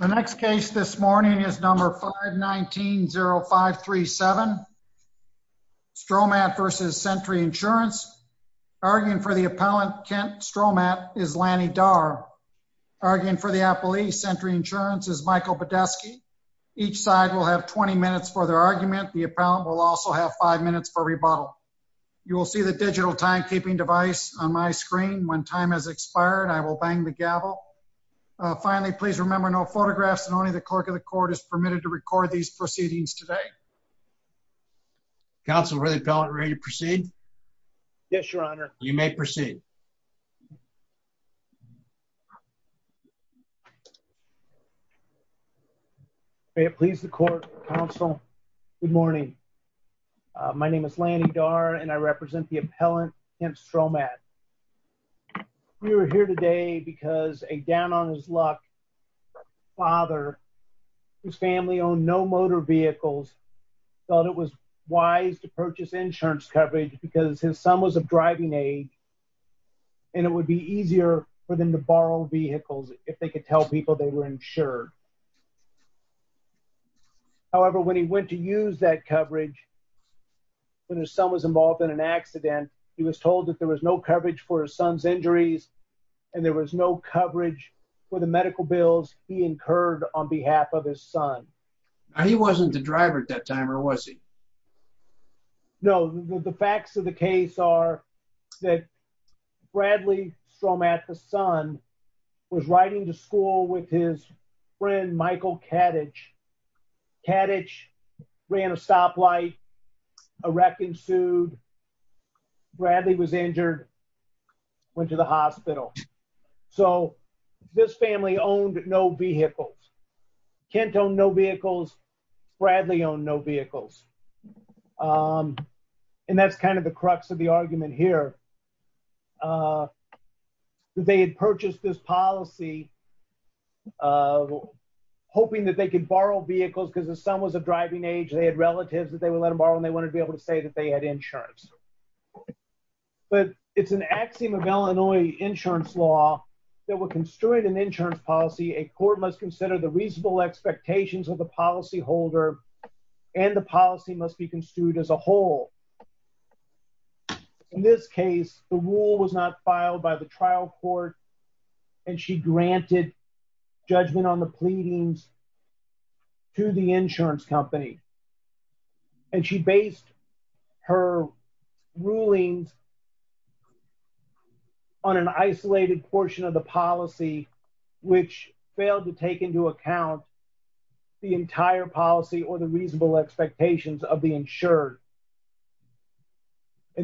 The next case this morning is number 519-0537. Stowmatt v. Sentry Insurance. Arguing for the appellant, Kent Stowmatt, is Lanny Dar. Arguing for the appellee, Sentry Insurance, is Michael Badesky. Each side will have 20 minutes for their argument. The appellant will also have 5 minutes for rebuttal. You will see the digital timekeeping device on my screen. When time has expired, I will bang the gavel. Finally, please remember, no photographs and only the clerk of the court is permitted to record these proceedings today. Counsel, are you ready to proceed? Yes, your honor. You may proceed. May it please the court, counsel. Good morning. My We are here today because a down on his luck father, whose family owned no motor vehicles, thought it was wise to purchase insurance coverage because his son was of driving age. And it would be easier for them to borrow vehicles if they could tell people they were insured. However, when he went to use that coverage, when his son was involved in an accident, he was told that there was no coverage for his son's injuries. And there was no coverage for the medical bills he incurred on behalf of his son. He wasn't the driver at that time, or was he? No, the facts of the case are that Bradley Stromat, the son, was riding to school with his friend, Michael Kaddish. Kaddish ran a stoplight, a wreck ensued. Bradley was injured, went to the hospital. So this family owned no vehicles. Kent owned no vehicles. Bradley owned no vehicles. And that's that they could borrow vehicles because his son was of driving age. They had relatives that they would let him borrow and they wanted to be able to say that they had insurance. But it's an axiom of Illinois insurance law that will constrain an insurance policy. A court must consider the reasonable expectations of the policyholder and the policy must be construed as a whole. In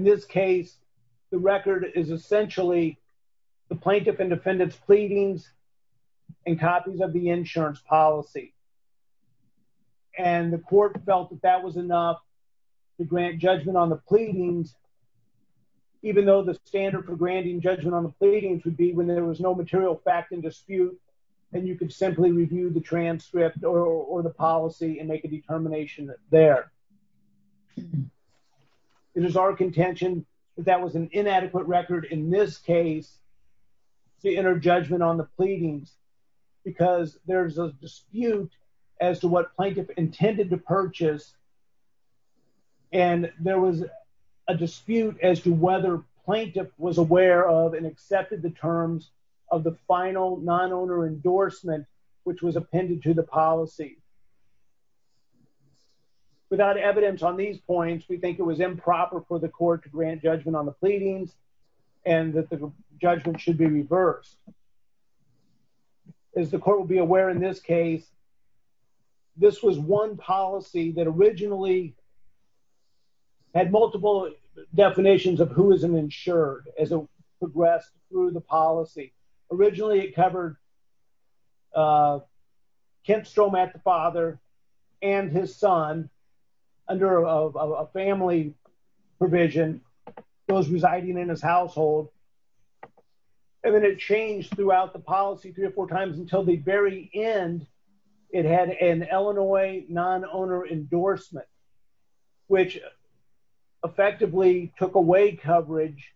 this case, the record is essentially the plaintiff and defendant's pleadings and copies of the insurance policy. And the court felt that that was enough to grant judgment on the pleadings, even though the standard for granting judgment on the pleadings would be when there was no material fact in dispute, and you could simply review the transcript or the policy and make a determination there. It is our contention that that was an inadequate record in this case, the inner judgment on the dispute as to what plaintiff intended to purchase. And there was a dispute as to whether plaintiff was aware of and accepted the terms of the final non owner endorsement, which was appended to the policy. Without evidence on these points, we think it was improper for the court to grant judgment on the pleadings, and that the judgment should be reversed. As the court will be aware, in this case, this was one policy that originally had multiple definitions of who is an insured as it progressed through the policy. Originally, it covered Kent Stromack, the father, and his son, under a family provision, those residing in his household. And then it changed throughout the policy three or four times until the very end. It had an Illinois non owner endorsement, which effectively took away coverage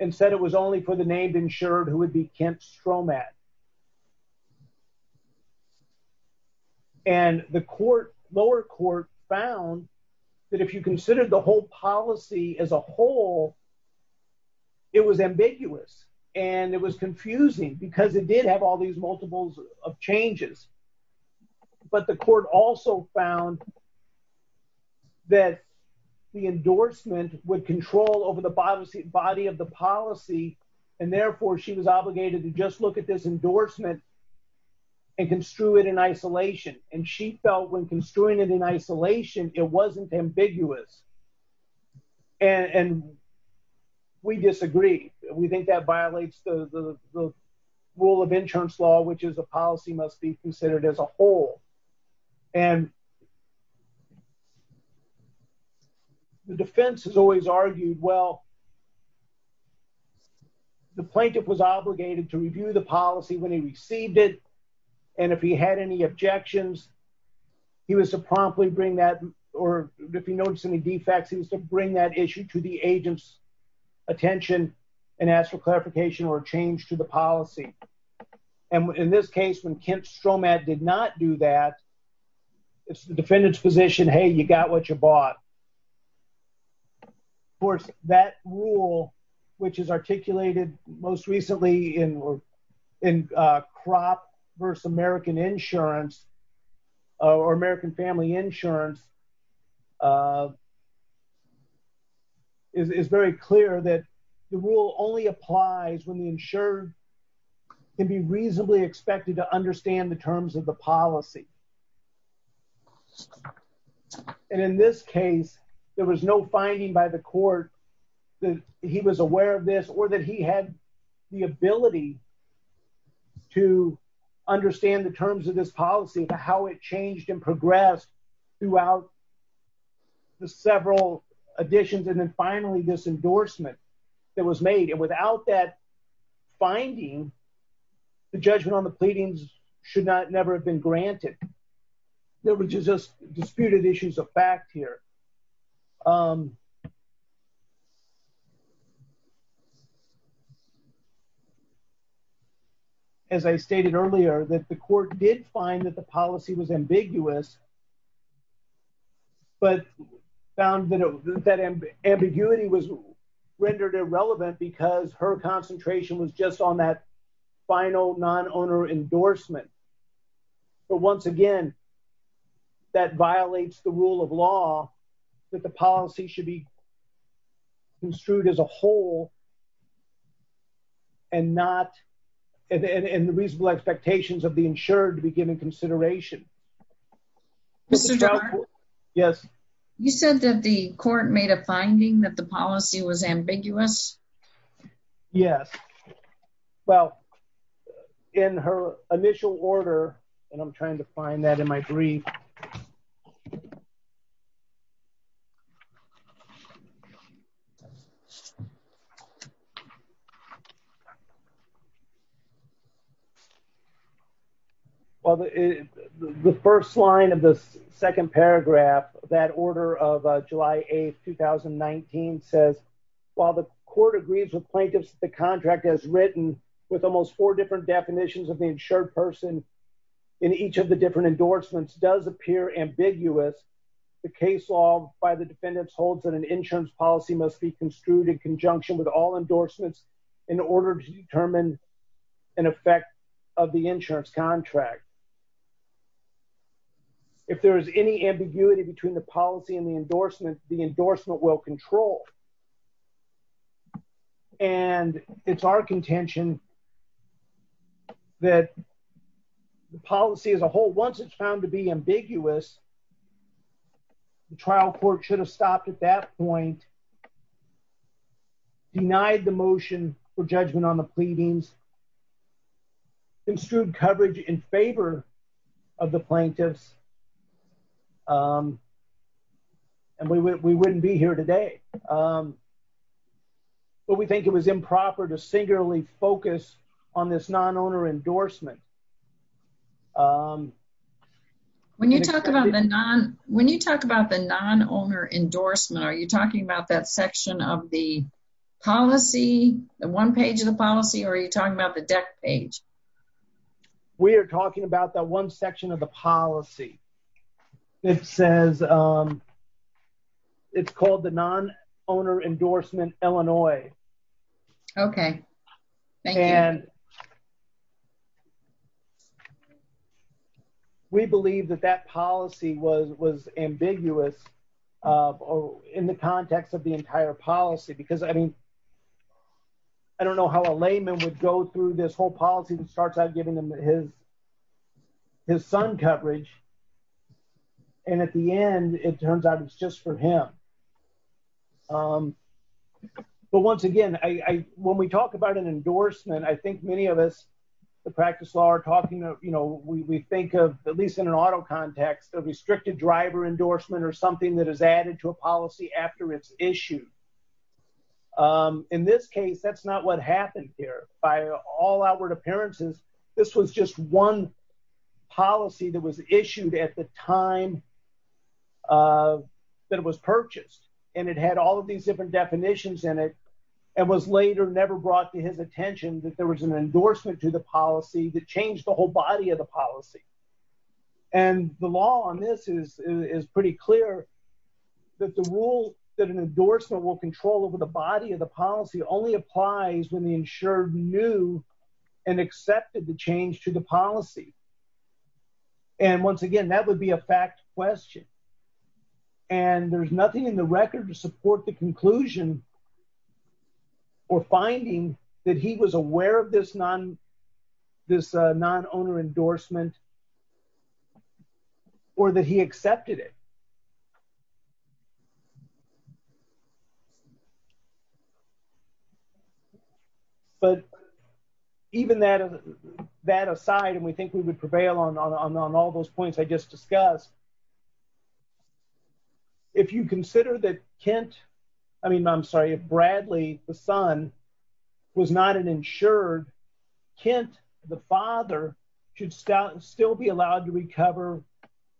and said it was only for the named insured who would be Kent Stromack. And the court lower court found that if you consider the whole policy as a And it was confusing because it did have all these multiples of changes. But the court also found that the endorsement would control over the body of the policy. And therefore, she was obligated to just look at this endorsement and construe it in isolation. And she felt when construing it in think that violates the rule of insurance law, which is a policy must be considered as a whole. And the defense has always argued, well, the plaintiff was obligated to review the policy when he received it. And if he had any objections, he was to promptly bring that or if he noticed any clarification or change to the policy. And in this case, when Kent Stromack did not do that, it's the defendant's position, hey, you got what you bought. For that rule, which is articulated most recently in in crop versus American insurance, or American applies when the insured can be reasonably expected to understand the terms of the policy. And in this case, there was no finding by the court that he was aware of this or that he had the ability to understand the terms of this policy, how it changed and progressed throughout the case. And she felt that finding the judgment on the pleadings should not never have been granted. There were just disputed issues of fact here. As I stated earlier, that the court did find that the policy was ambiguous. But found that that ambiguity was rendered irrelevant because her concentration was just on that final non-owner endorsement. But once again, that violates the rule of law that the policy should be construed as a whole and not and the reasonable expectations of the insured to be given consideration. Mr. Jarre. Yes. You said that the court made a finding that the policy was ambiguous. Yes. Well, in her initial order, and I'm trying to find that in my brief. Well, the first line of the second paragraph, that order of July 8th, 2019, says, while the court agrees with plaintiffs, the contract has written with almost four different definitions of the insured person in each of the different endorsements does appear ambiguous. The case law by the defendants holds that an insurance policy must be construed in conjunction with all endorsements in order to determine an effect of the insurance contract. If there is any ambiguity between the policy and the endorsement, the endorsement will control. And it's our contention that the policy as a whole, once it's found to be ambiguous, the trial court should have stopped at that point, denied the motion for judgment on the pleadings, and construed coverage in favor of the plaintiffs. And we wouldn't be here today. But we think it was improper to singularly focus on this non-owner endorsement. When you talk about the non-owner endorsement, are you talking about that section of the policy, the one page of the policy, or are you talking about the deck page? We are talking about that one section of the policy. It says, it's called the non-owner endorsement Illinois. Okay. Thank you. And we believe that that policy was ambiguous in the context of the entire policy. Because, I mean, I don't know how a layman would go through this whole policy that starts out giving them his son coverage. And at the end, it turns out it's just for him. But once again, when we talk about an endorsement, I think many of us, the practice law are talking about, we think of, at least in an auto context, a restricted driver endorsement or something that is added to a policy after it's issued. In this case, that's not what happened here. By all outward appearances, this was just one policy that was issued at the time that it was purchased. And it had all of these different definitions in it. It was later never brought to his attention that there was an endorsement to the policy that changed the whole body of the policy. And the law on this is pretty clear that the rule that an endorsement will control over the body of the policy only applies when the insured knew and accepted the change to the policy. And once again, that would be a fact question. And there's nothing in the record to support the conclusion or finding that he was aware of this non-owner endorsement or that he accepted it. But even that aside, and we think we would prevail on all those points I just discussed, if you consider that Kent, I mean, I'm sorry, if Bradley, the son, was not an insured, Kent, the father, should still be allowed to recover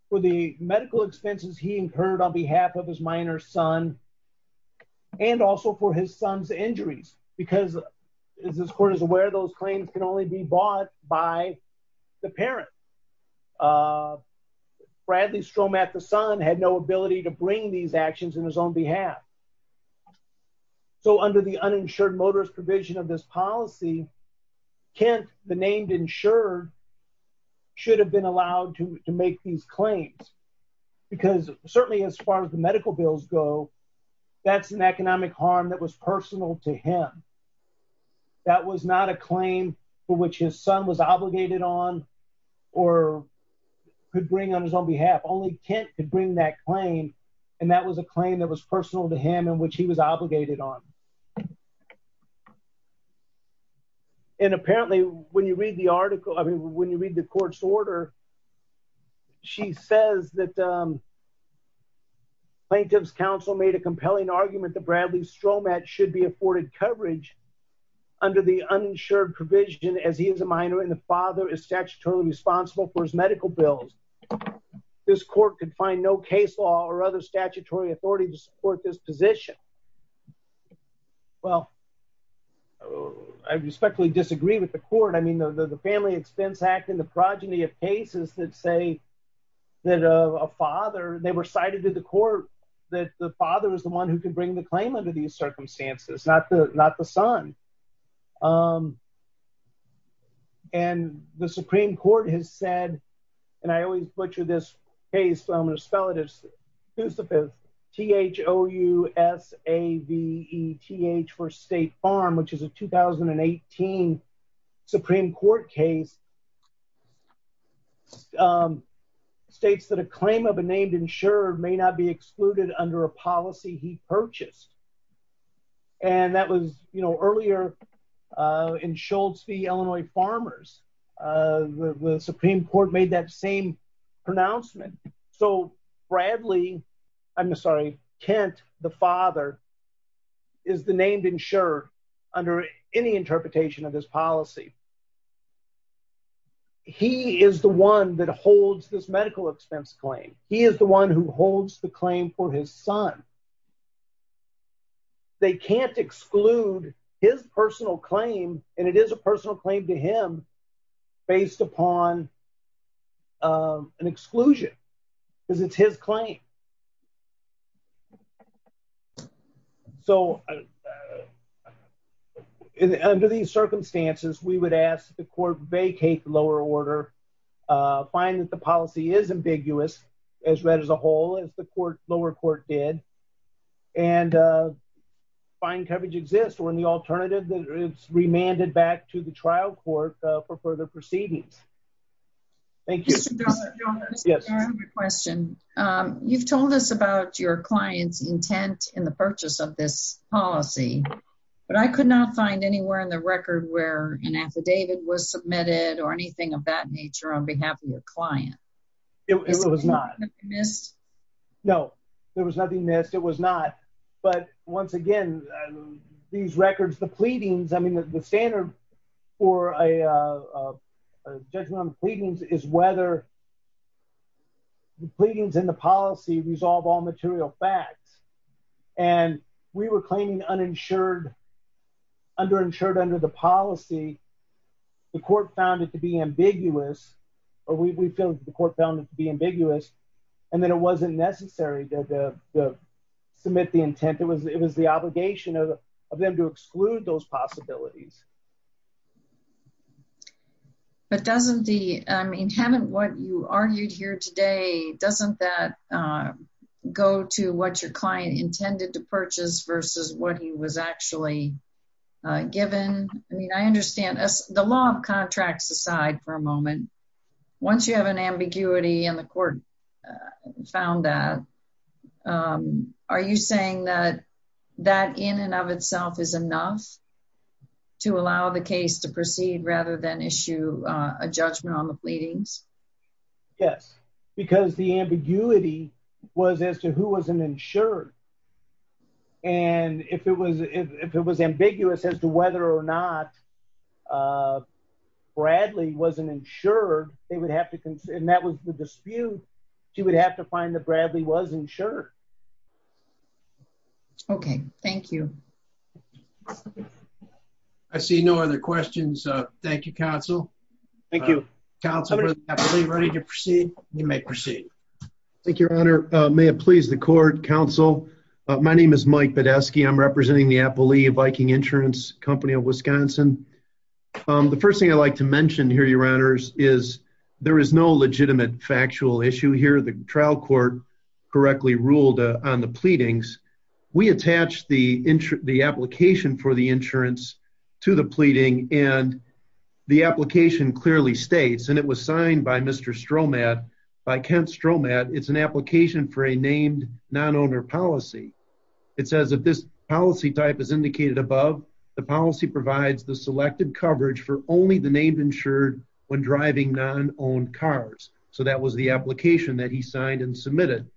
for the medical expenses he incurred on behalf of his minor son and also for his son's injuries. Because as this court is aware, those claims can only be bought by the parent. Bradley Stromath, the son, had no ability to bring these actions in his own behalf. So under the uninsured motorist provision of this policy, Kent, the named insured, should have been allowed to make these claims. Because certainly, as far as the medical bills go, that's an economic harm that was personal to him. That was not a claim for which his son was obligated on or could bring on his own behalf. Only Kent could bring that claim, and that was a claim that was personal to him and which he was obligated on. And apparently, when you read the article, I mean, when you read the court's order, she says that plaintiff's counsel made a compelling argument that Bradley Stromath should be afforded coverage under the uninsured provision as he is a minor and the father is statutorily responsible for his medical bills. This court could find no case law or other statutory authority to support this position. Well, I respectfully disagree with the court. I mean, the Family Expense Act and the progeny of cases that say that a father, they were cited to the court that the father was the one who could bring the claim under these circumstances, not the son. And the Supreme Court has said, and I always butcher this case, so I'm going to spell it as Josephus, T-H-O-U-S-A-V-E-T-H for State Farm, which is a 2018 Supreme Court case, states that a claim of a named insurer may not be excluded under a policy he purchased. And that was, you know, earlier in Schultz v. Illinois Farmers, the Supreme Court made that same pronouncement. So Bradley, I'm sorry, Kent, the father, is the named insurer under any interpretation of his policy. He is the one that holds this medical expense claim. He is the one who holds the claim for his son. They can't exclude his personal claim, and it is a personal claim to him based upon an exclusion, because it's his claim. So under these circumstances, we would ask that the court vacate the lower order, find that the policy is ambiguous, as read as a whole, as the lower court did, and find coverage exists. Or in the alternative, it's remanded back to the trial court for further proceedings. Thank you. Mr. Donovan, I have a question. You've told us about your client's intent in the purchase of this policy, but I could not find anywhere in the record where an affidavit was submitted or anything of that nature on behalf of your client. It was not. No, there was nothing missed. It was not. But once again, these records, the pleadings, I mean, the standard for a judgment on the pleadings is whether the pleadings and the policy resolve all material facts. And we were claiming uninsured, underinsured under the policy. The court found it to be ambiguous, or we feel the court found it to be ambiguous, and then it wasn't necessary to submit the intent. It was the obligation of them to exclude those possibilities. But doesn't the, I mean, haven't what you argued here today, doesn't that go to what your client intended to purchase versus what he was actually given? I mean, I understand the law of contracts aside for a moment. Once you have an ambiguity and the court found that, are you saying that that in and of itself is enough to allow the case to proceed rather than issue a judgment on the pleadings? Yes, because the whether or not Bradley wasn't insured, they would have to, and that was the dispute, she would have to find that Bradley was insured. Okay, thank you. I see no other questions. Thank you, counsel. Thank you. Counsel, we're ready to proceed. You may proceed. Thank you, Your Honor. May it please the court, counsel. My name is Mike Badesky. I'm representing the Appalachian Viking Insurance Company of Wisconsin. The first thing I'd like to mention here, Your Honors, is there is no legitimate factual issue here. The trial court correctly ruled on the pleadings. We attach the application for the insurance to the pleading, and the application clearly states, and it was policy. It says if this policy type is indicated above, the policy provides the selected coverage for only the name insured when driving non-owned cars. So that was the application that he signed and submitted,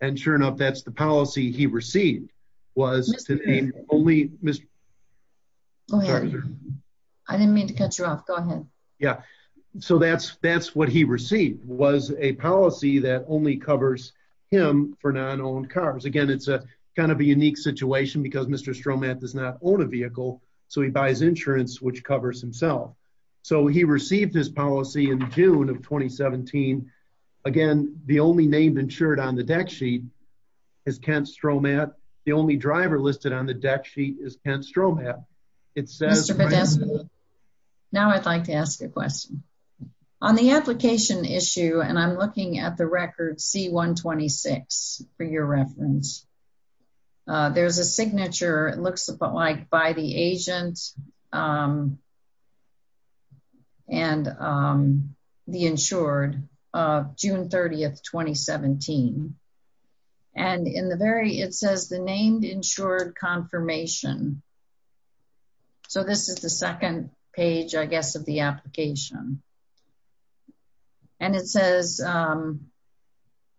and sure enough, that's the policy he received was to name only Mr. Go ahead. I didn't mean to cut you off. Go ahead. Yeah, so that's what he received was a policy that only covers him for non-owned cars. Again, it's a kind of a unique situation because Mr. Stromat does not own a vehicle, so he buys insurance which covers himself. So he received his policy in June of 2017. Again, the only name insured on the deck sheet is Kent Stromat. The only driver listed on the deck sheet is Kent Stromat. Mr. Badesky, now I'd like to ask a record C-126 for your reference. There's a signature. It looks like by the agent and the insured of June 30th, 2017, and in the very, it says the named insured confirmation. So this is the second page, I guess, of the application, and it says,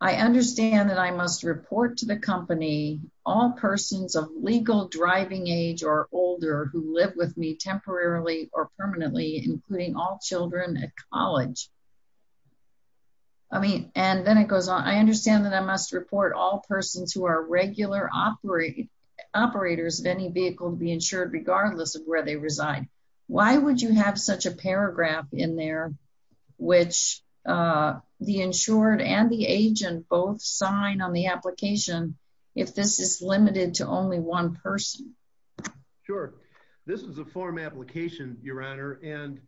I understand that I must report to the company all persons of legal driving age or older who live with me temporarily or permanently, including all children at college. I mean, and then it goes on. I understand that I must report all persons who are regular operators of any vehicle to be insured regardless of where they reside. Why would you have such a paragraph in there which the insured and the agent both sign on the application if this is limited to only one person? Sure. This is a form application, Your Honor, and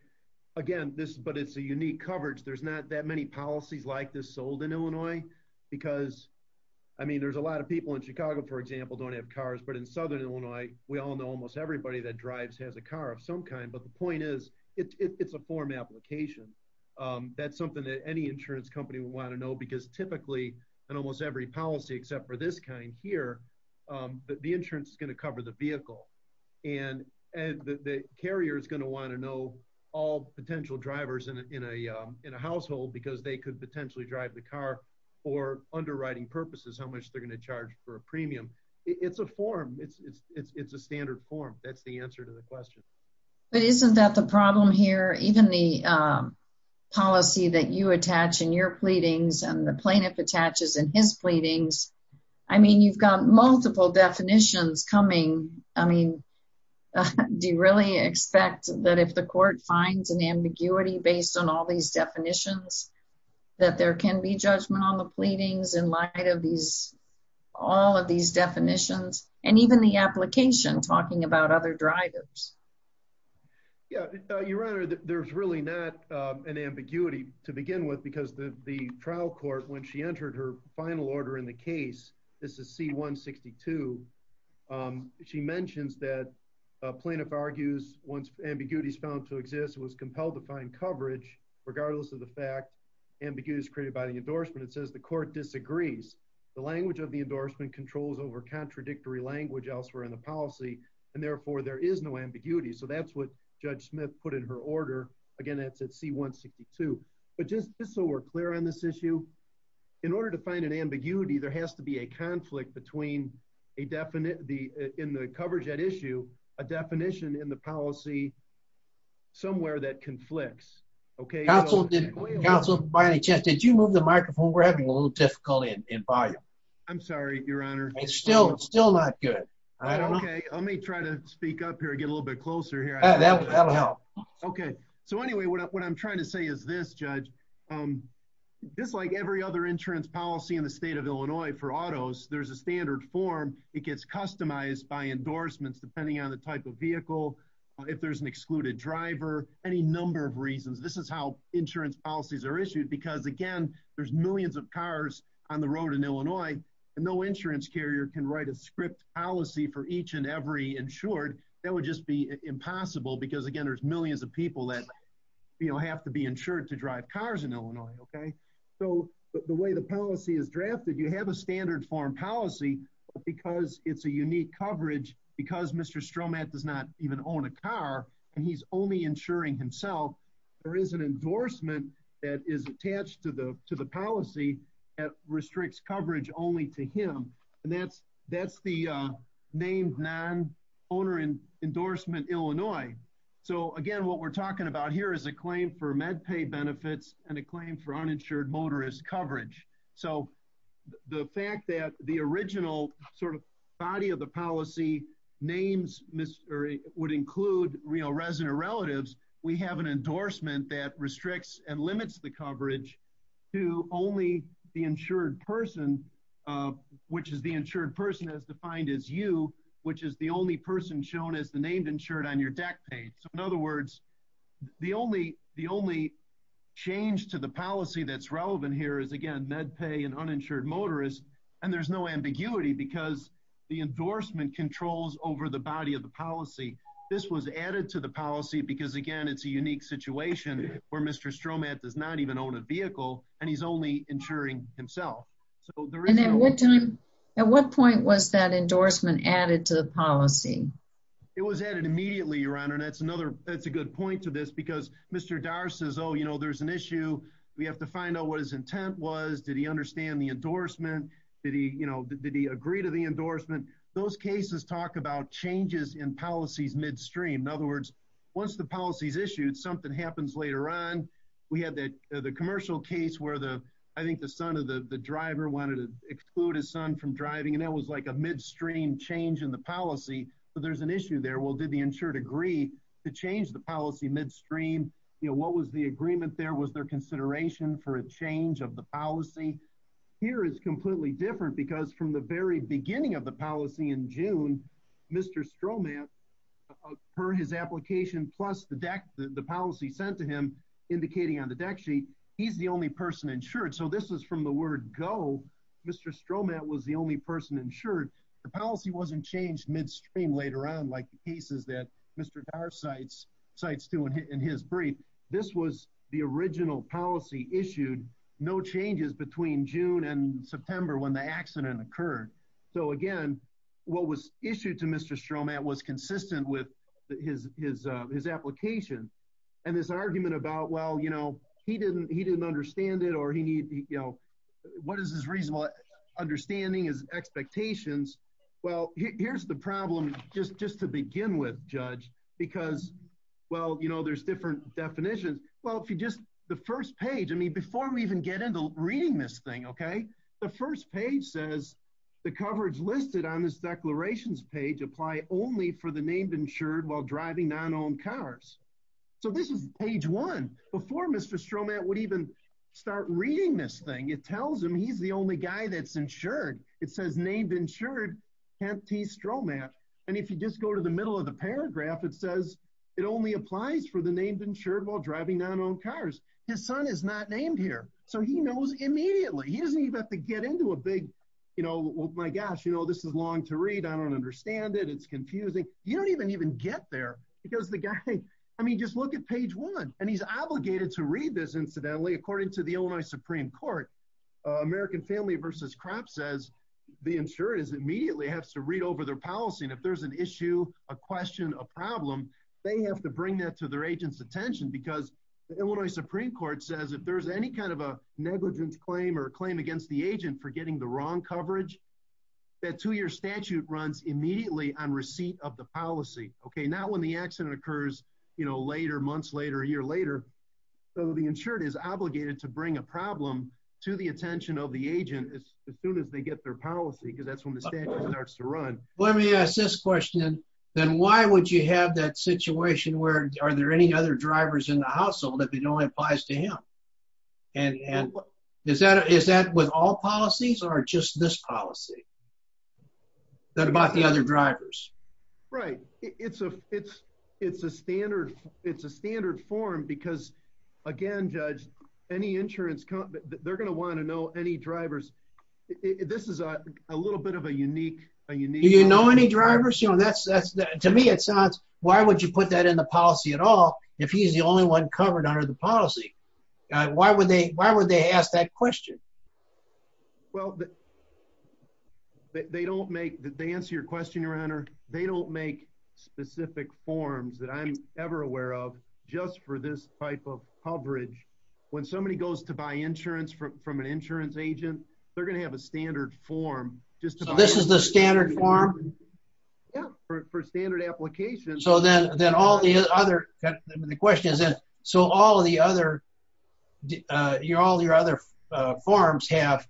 again, but it's a unique coverage. There's not that many policies like this sold in Illinois because, I mean, there's a lot of people in Chicago, for example, don't have cars, but in Southern Illinois, we all know almost everybody that drives has a car of some kind, but the point is it's a form application. That's something that any insurance company would want to know because typically in almost every policy except for this kind here, the insurance is going to cover the vehicle, and the carrier is going to want to know all potential drivers in a household because they could potentially drive the car for a premium. It's a form. It's a standard form. That's the answer to the question, but isn't that the problem here? Even the policy that you attach in your pleadings and the plaintiff attaches in his pleadings, I mean, you've got multiple definitions coming. I mean, do you really expect that if the court finds an ambiguity based on all these definitions that there can be judgment on the pleadings in light of all of these definitions and even the application talking about other drivers? Yeah, Your Honor, there's really not an ambiguity to begin with because the trial court, when she entered her final order in the case, this is C-162, she mentions that a plaintiff argues once ambiguity is found to exist, it was compelled to find coverage regardless of the fact ambiguity is created by the endorsement. It says the court disagrees. The language of the endorsement controls over contradictory language elsewhere in the policy, and therefore there is no ambiguity. So that's what Judge Smith put in her order. Again, that's at C-162, but just so we're clear on this issue, in order to find an ambiguity, there has to be a conflict between a definite, in the coverage at issue, a definition in the policy somewhere that conflicts. Counsel, by any chance, did you move the microphone? We're having a little difficulty in volume. I'm sorry, Your Honor. It's still not good. Okay, let me try to speak up here and get a little bit closer here. That'll help. Okay, so anyway, what I'm trying to say is this, Judge, just like every other insurance policy in the state of Illinois for autos, there's a standard form. It gets customized by endorsements, depending on the type of vehicle, if there's an excluded driver, any number of reasons. This is how insurance policies are issued because, again, there's millions of cars on the road in Illinois, and no insurance carrier can write a script policy for each and every insured. That would just be impossible because, again, there's millions of people that have to be insured to drive cars in Illinois, okay? So the way the policy is drafted, you have a standard form policy, but because it's a unique coverage, because Mr. Stromat does not even own a car, and he's only insuring himself, there is an endorsement that is attached to the policy that restricts coverage only to him, and that's the named non-owner endorsement, Illinois. So again, what we're talking about here is a claim for MedPay benefits and a claim for uninsured motorist coverage. So the fact that the original sort of body of the policy names would include, you know, resident relatives, we have an endorsement that restricts and limits the coverage to only the insured person, which is the insured person as defined as you, which is the only person shown as the named insured on your deck page. So in other words, the only change to the policy that's relevant here is, again, MedPay and uninsured motorist, and there's no ambiguity, because the endorsement controls over the body of the policy. This was added to the policy because, again, it's a unique situation where Mr. Stromat does not even own a vehicle, and he's only insuring himself. And at what time, at what point was that endorsement added to the policy? It was added immediately, Your Honor, and that's another, that's a good point to this, because Mr. Darst says, oh, you know, there's an issue. We have to find out what his intent was. Did he understand the endorsement? Did he, you know, did he agree to the endorsement? Those cases talk about changes in policies midstream. In other words, once the policy is issued, something happens later on. We had the commercial case where the, I think the son of the driver wanted to exclude his son from driving, and that was like a midstream change in the policy. So there's an issue there. Well, did the insured agree to change the policy midstream? You know, what was the agreement there? Was there consideration for a change of the policy? Here it's completely different, because from the very beginning of the policy in June, Mr. Stromat, per his application, plus the deck, the policy sent to him indicating on the deck sheet, he's the only person insured. So this is from the word go. Mr. Stromat was the only person insured. The policy wasn't changed midstream later on, like the cases that Mr. Darr cites to in his brief. This was the original policy issued, no changes between June and September when the accident occurred. So again, what was issued to Mr. Stromat was consistent with his application. And this argument about, well, you know, he didn't understand it, or he needed, you know, what is his reasonable understanding, his to begin with, Judge, because, well, you know, there's different definitions. Well, if you just, the first page, I mean, before we even get into reading this thing, okay, the first page says, the coverage listed on this declarations page apply only for the named insured while driving non-owned cars. So this is page one. Before Mr. Stromat would even start reading this thing, it tells him he's the only guy that's insured. It says named insured, Kent T. Stromat. And if you just go to the middle of the paragraph, it says it only applies for the named insured while driving non-owned cars. His son is not named here. So he knows immediately. He doesn't even have to get into a big, you know, well, my gosh, you know, this is long to read. I don't understand it. It's confusing. You don't even get there because the guy, I mean, just look at page one. And he's obligated to read this incidentally, according to the Illinois Supreme Court, American Family versus Crop says the insurance immediately has to read over their policy. And if there's an issue, a question, a problem, they have to bring that to their agent's attention because the Illinois Supreme Court says if there's any kind of a negligence claim or claim against the agent for getting the wrong coverage, that two-year statute runs immediately on receipt of the policy. Okay. Not when the accident occurs, you know, later, months later, a year later. So the insured is obligated to bring a problem to the attention of the agent as soon as they get their policy because that's when the statute starts to run. Let me ask this question, then why would you have that situation where are there any other drivers in the household if it only applies to him? And is that with all policies or just this policy? That about the other drivers? Right. It's a standard form because, again, Judge, any insurance company, they're going to want to know any drivers. This is a little bit of a unique... Do you know any drivers? To me, it sounds, why would you put that in the policy at all if he's the only one covered under the policy? Why would they ask that question? Well, they don't make... To answer your question, Your Honor, they don't make specific forms that I'm ever aware of just for this type of coverage. When somebody goes to buy insurance from an insurance agent, they're going to have a standard form just to... So this is the standard form? Yeah, for standard applications. So then all the other... The question is that, so all the other... All your other forms have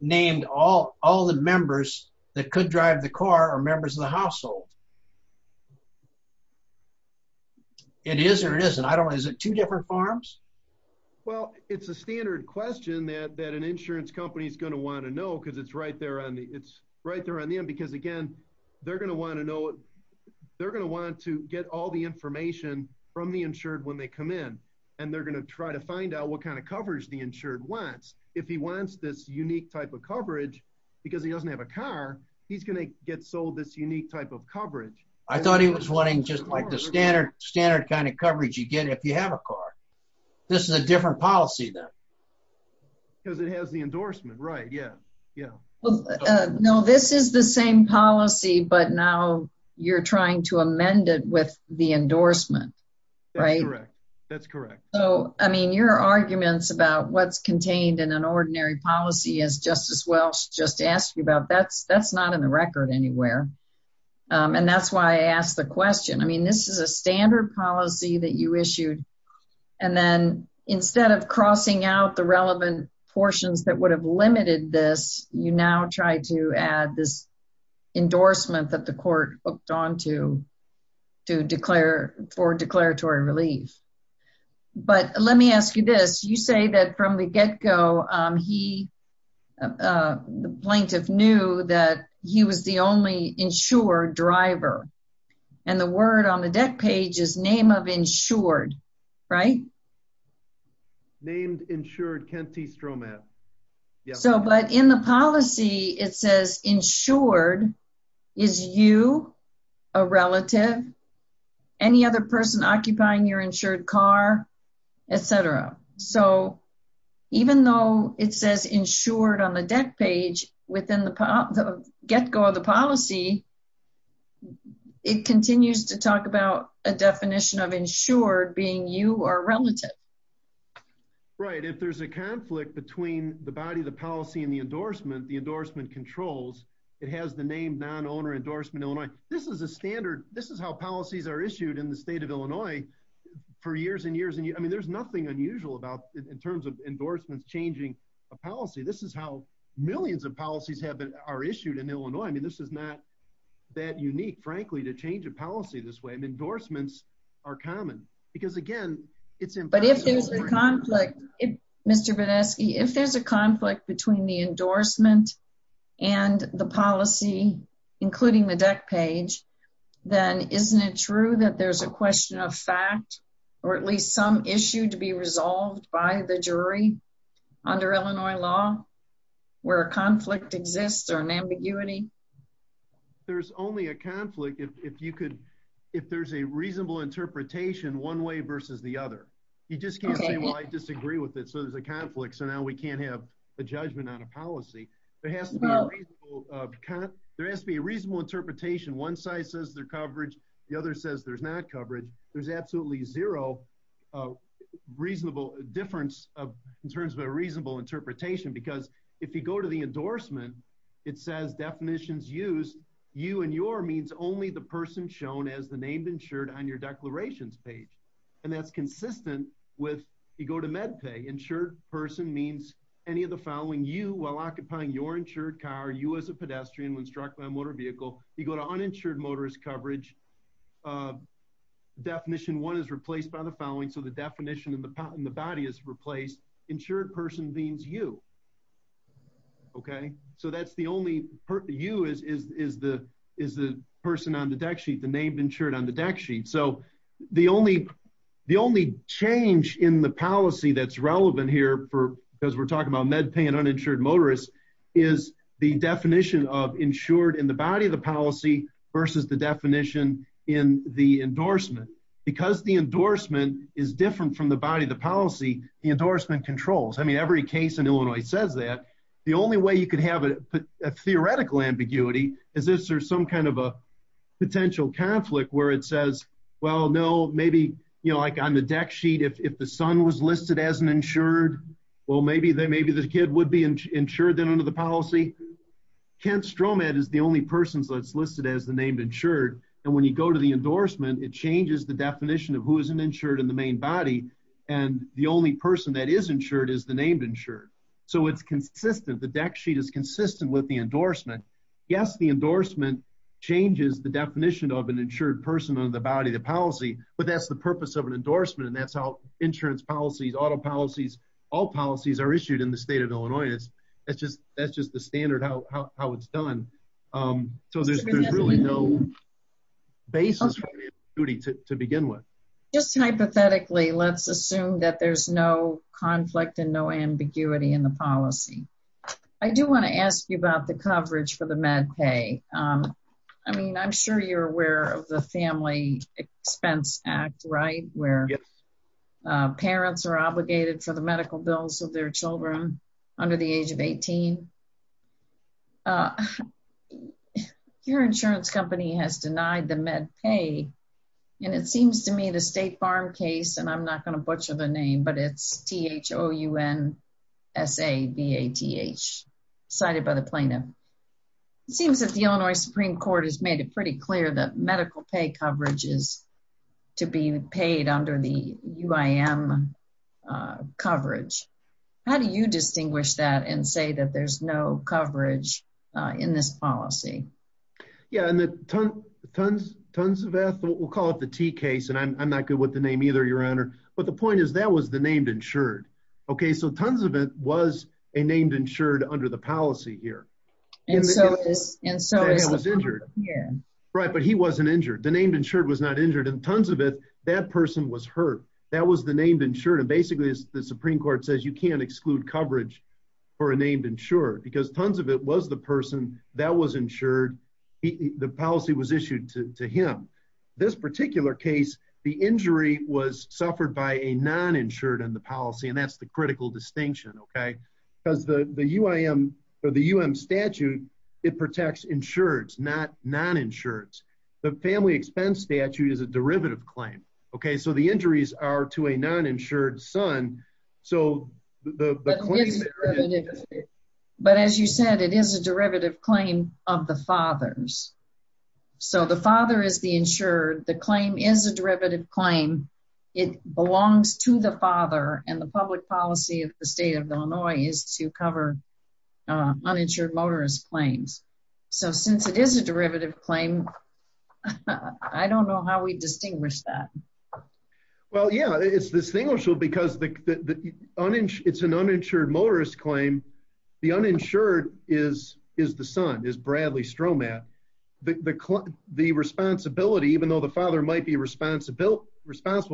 named all the members that could drive the car are members of the household. It is or it isn't? I don't know. Is it two different forms? Well, it's a standard question that an insurance company is going to want to know because it's right there on the... It's right there on the end because, again, they're going to want to know... They're going to want to get all the information from the insured when they come in, and they're going to try to find out what kind of coverage the insured wants. If he wants this unique type of coverage because he doesn't have a car, he's going to get sold this unique type of coverage. I thought he was wanting just like the standard kind of coverage you get if you have a car. This is a different policy then. Because it has the endorsement, right? Yeah. Yeah. Well, no, this is the same policy, but now you're trying to amend it with the endorsement, right? That's correct. That's correct. So, your arguments about what's contained in an ordinary policy, as Justice Welsh just asked you about, that's not in the record anywhere. That's why I asked the question. This is a standard policy that you issued, and then instead of crossing out the relevant portions that would have limited this, you now try to add this endorsement that the court hooked onto for declaratory relief. But let me ask you this. You say that from the get-go, the plaintiff knew that he was the only insured driver, and the word on the deck page is name of insured, right? Named insured, Kent T. Stromat. So, but in the policy, it says insured. Is you a relative? Any other person occupying your insured car, etc. So, even though it says insured on the deck page, within the get-go of the policy, it continues to talk about a definition of insured being you or relative. Right. If there's a conflict between the body, the policy, and the endorsement, the endorsement controls. It has the name non-owner endorsement Illinois. This is a standard. This is how policies are issued in the state of Illinois for years and years. I mean, there's nothing unusual about in terms of endorsements changing a policy. This is how millions of policies have been are issued in Illinois. I mean, this is not that unique, frankly, to change a policy this way. Endorsements are common because, again, it's important. But if there's a conflict, Mr. Badesky, if there's a conflict between the endorsement and the policy, including the deck page, then isn't it true that there's a question of fact or at least some issue to be resolved by the jury under Illinois law where a conflict exists or an ambiguity? There's only a conflict if you could, if there's a reasonable interpretation one way versus the other. You just can't say, well, I disagree with it. So, there's a conflict. So, now we can't have a judgment on a policy. There has to be a reasonable interpretation. One side says there's coverage. The other says there's not coverage. There's absolutely zero reasonable difference in terms of a reasonable interpretation because if you go to the endorsement, it says definitions used, you and your means only the person shown as the name insured on your declarations page. And that's consistent with, you go to MedPay, insured person means any of the following, you while occupying your insured car, you as a pedestrian when struck by a motor vehicle, you go to uninsured motorist coverage. Definition one is replaced by the following. So, the definition in the body is replaced. Insured person means you. Okay. So, that's the only, you is the person on the deck sheet, the name insured on the deck sheet. So, the only change in the policy that's relevant here because we're talking about MedPay and uninsured motorist is the definition of insured in the body of the policy versus the definition in the endorsement. Because the endorsement is different from the body of the policy, the endorsement controls. I mean, every case in Illinois says that. The only way you could have a theoretical ambiguity is if there's some kind of a potential conflict where it says, well, no, maybe, you know, like on the deck sheet, if the son was listed as an insured, well, maybe the kid would be insured then under the policy. Kent Stromat is the only person that's listed as the name insured. And when you go to the endorsement, it changes the definition of who is an insured in the main body. And the only person that is insured is the named insured. So, it's consistent. The deck sheet is consistent with the endorsement. Yes, the endorsement changes the definition of an insured person on the body of the policy, but that's the purpose of an endorsement. And that's how insurance policies, auto policies, all policies are issued in the state of Illinois. That's just the standard how it's done. So, there's really no basis for ambiguity to begin with. Just hypothetically, let's assume that there's no conflict and no ambiguity in the policy. I do want to ask you about the coverage for the MedPay. I mean, I'm sure you're aware of the Family Expense Act, right? Where parents are obligated for the medical bills of their children under the age of 18. Your insurance company has denied the MedPay. And it seems to me the State Farm case, and I'm not going to butcher the name, but it's H-O-U-N-S-A-B-A-T-H, cited by the plaintiff. It seems that the Illinois Supreme Court has made it pretty clear that medical pay coverage is to be paid under the UIM coverage. How do you distinguish that and say that there's no coverage in this policy? Yeah, and the Tonsveth, we'll call it the T case, and I'm not good with the name either, Your Honor, but the point is that was named insured. Okay, so Tonsveth was a named insured under the policy here. And so he was injured. Yeah. Right, but he wasn't injured. The named insured was not injured. And Tonsveth, that person was hurt. That was the named insured. And basically, the Supreme Court says you can't exclude coverage for a named insured because Tonsveth was the person that was insured. The particular case, the injury was suffered by a non-insured in the policy, and that's the critical distinction, okay? Because the UIM statute, it protects insureds, not non-insureds. The family expense statute is a derivative claim, okay? So the injuries are to a non-insured son. But as you said, it is a derivative claim of the fathers. So the father is the insured, the claim is a derivative claim, it belongs to the father, and the public policy of the state of Illinois is to cover uninsured motorist claims. So since it is a derivative claim, I don't know how we distinguish that. Well, yeah, it's distinguishable because it's an uninsured motorist claim. The uninsured is the son, is Bradley Stromat. The responsibility, even though the father might be responsible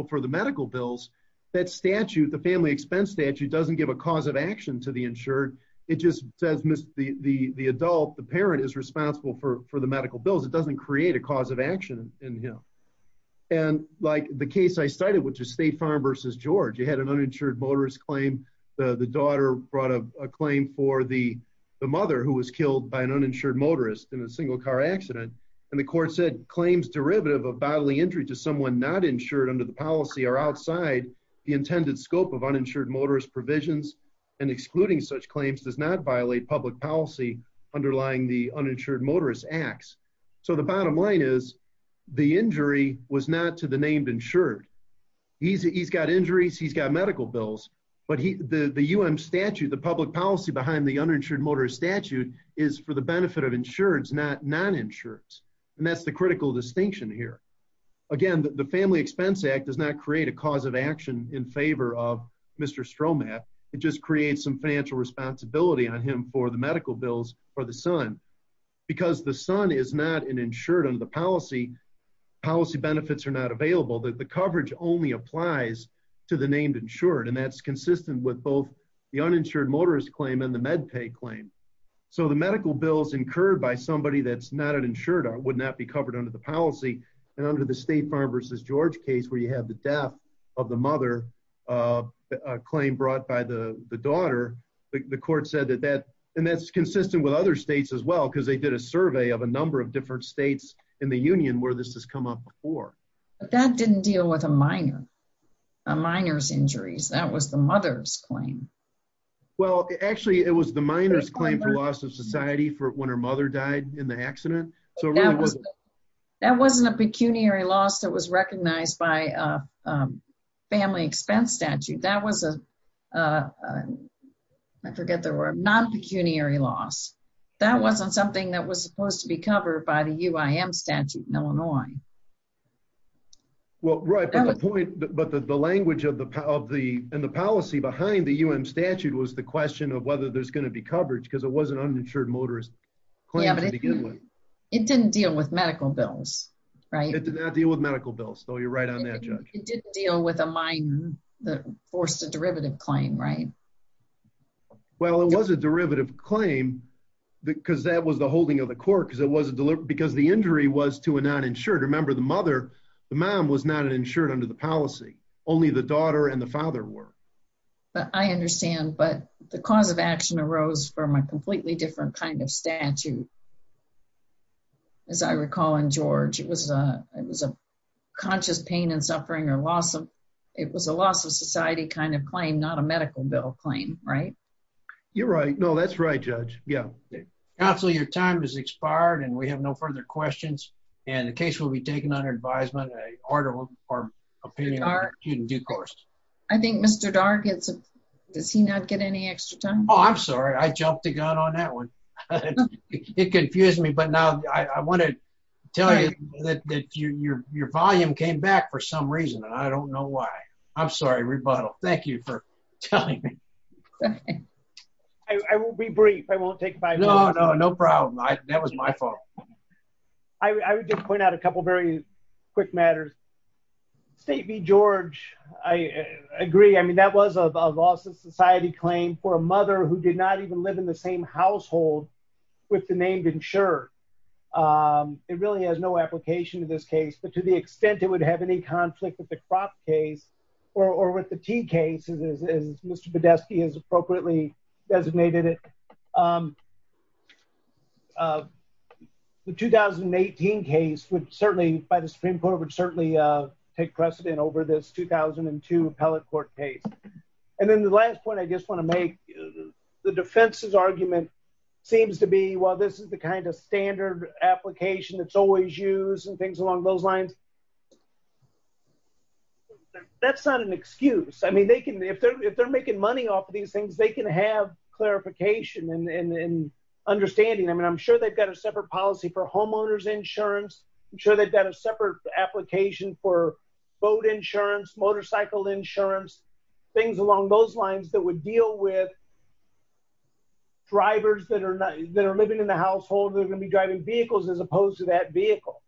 for the medical bills, that statute, the family expense statute, doesn't give a cause of action to the insured. It just says the adult, the parent, is responsible for the medical bills. It doesn't create a cause of action in him. And like the case I cited, which is State Farm versus George, you had an uninsured motorist claim. The daughter brought a claim for the mother who was killed by an accident, and the court said claims derivative of bodily injury to someone not insured under the policy are outside the intended scope of uninsured motorist provisions, and excluding such claims does not violate public policy underlying the uninsured motorist acts. So the bottom line is, the injury was not to the named insured. He's got injuries, he's got medical bills, but the UM statute, the public policy behind the uninsured motorist statute is for the benefit of insureds, not non-insureds. And that's the critical distinction here. Again, the Family Expense Act does not create a cause of action in favor of Mr. Stromat, it just creates some financial responsibility on him for the medical bills for the son. Because the son is not an insured under the policy, policy benefits are not available, the coverage only applies to the named insured, and that's consistent with both uninsured motorist claim and the med pay claim. So the medical bills incurred by somebody that's not an insured would not be covered under the policy, and under the State Farm v. George case where you have the death of the mother, a claim brought by the daughter, the court said that that, and that's consistent with other states as well, because they did a survey of a number of different states in the union where this has come up before. But that didn't deal with a minor, minor's injuries, that was the mother's claim. Well, actually it was the minor's claim for loss of society for when her mother died in the accident. That wasn't a pecuniary loss that was recognized by a family expense statute, that was a, I forget the word, non-pecuniary loss. That wasn't something that was supposed to be covered by the but the language of the, and the policy behind the UM statute was the question of whether there's going to be coverage because it was an uninsured motorist claim to begin with. It didn't deal with medical bills, right? It did not deal with medical bills, so you're right on that, Judge. It didn't deal with a minor that forced a derivative claim, right? Well, it was a derivative claim because that was the holding of the court because it wasn't, because the injury was to a non-insured. Remember, the mother, the mom was not insured under the policy, only the daughter and the father were. But I understand, but the cause of action arose from a completely different kind of statute. As I recall in George, it was a, it was a conscious pain and suffering or loss of, it was a loss of society kind of claim, not a medical bill claim, right? You're right. No, that's right, Judge. Yeah. Counsel, your time has expired and we have no further questions and the case will be taken under advisement, a order or opinion in due course. I think Mr. Darr gets, does he not get any extra time? Oh, I'm sorry. I jumped the gun on that one. It confused me, but now I want to tell you that your volume came back for some reason and I don't know why. I'm sorry, rebuttal. Thank you for telling me. I will be brief. I won't take five minutes. I would just point out a couple of very quick matters. State v. George, I agree. I mean, that was a loss of society claim for a mother who did not even live in the same household with the named insurer. It really has no application to this case, but to the extent it would have any conflict with the crop case or with the tea case, as Mr. Badesky has appropriately designated it, the 2018 case would certainly, by the Supreme Court, would certainly take precedent over this 2002 appellate court case. And then the last point I just want to make, the defense's argument seems to be, well, this is the kind of standard application that's always used and things along those lines. That's not an excuse. I mean, they can, if they're making money off of these things, they can have clarification and understanding. I mean, I'm sure they've got a separate policy for homeowner's insurance. I'm sure they've got a separate application for boat insurance, motorcycle insurance, things along those lines that would deal with drivers that are living in the household. They're going to be driving vehicles as opposed to that vehicle.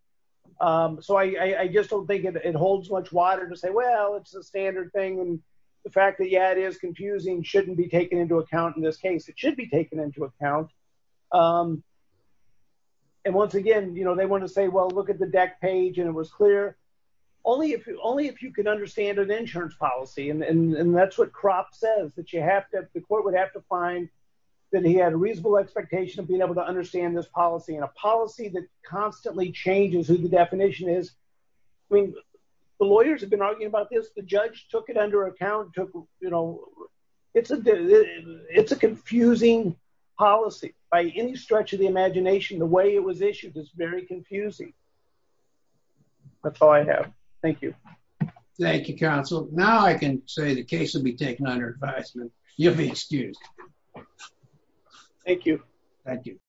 So I just don't think it holds much water to say, well, it's a standard thing. And the fact that, yeah, it is confusing, shouldn't be taken into account in this case. It should be taken into account. And once again, they want to say, well, look at the deck page and it was clear. Only if you can understand an insurance policy, and that's what crop says, that you have to, the court would have to find that he had a reasonable expectation of being able to understand this policy and a policy that constantly changes who the definition is. I mean, the lawyers have been arguing about this. The judge took it under account, took, you know, it's a, it's a confusing policy by any stretch of the imagination, the way it was issued is very confusing. That's all I have. Thank you. Thank you, counsel. Now I can say the case will be taken under advisement. You'll be excused. Thank you. Thank you.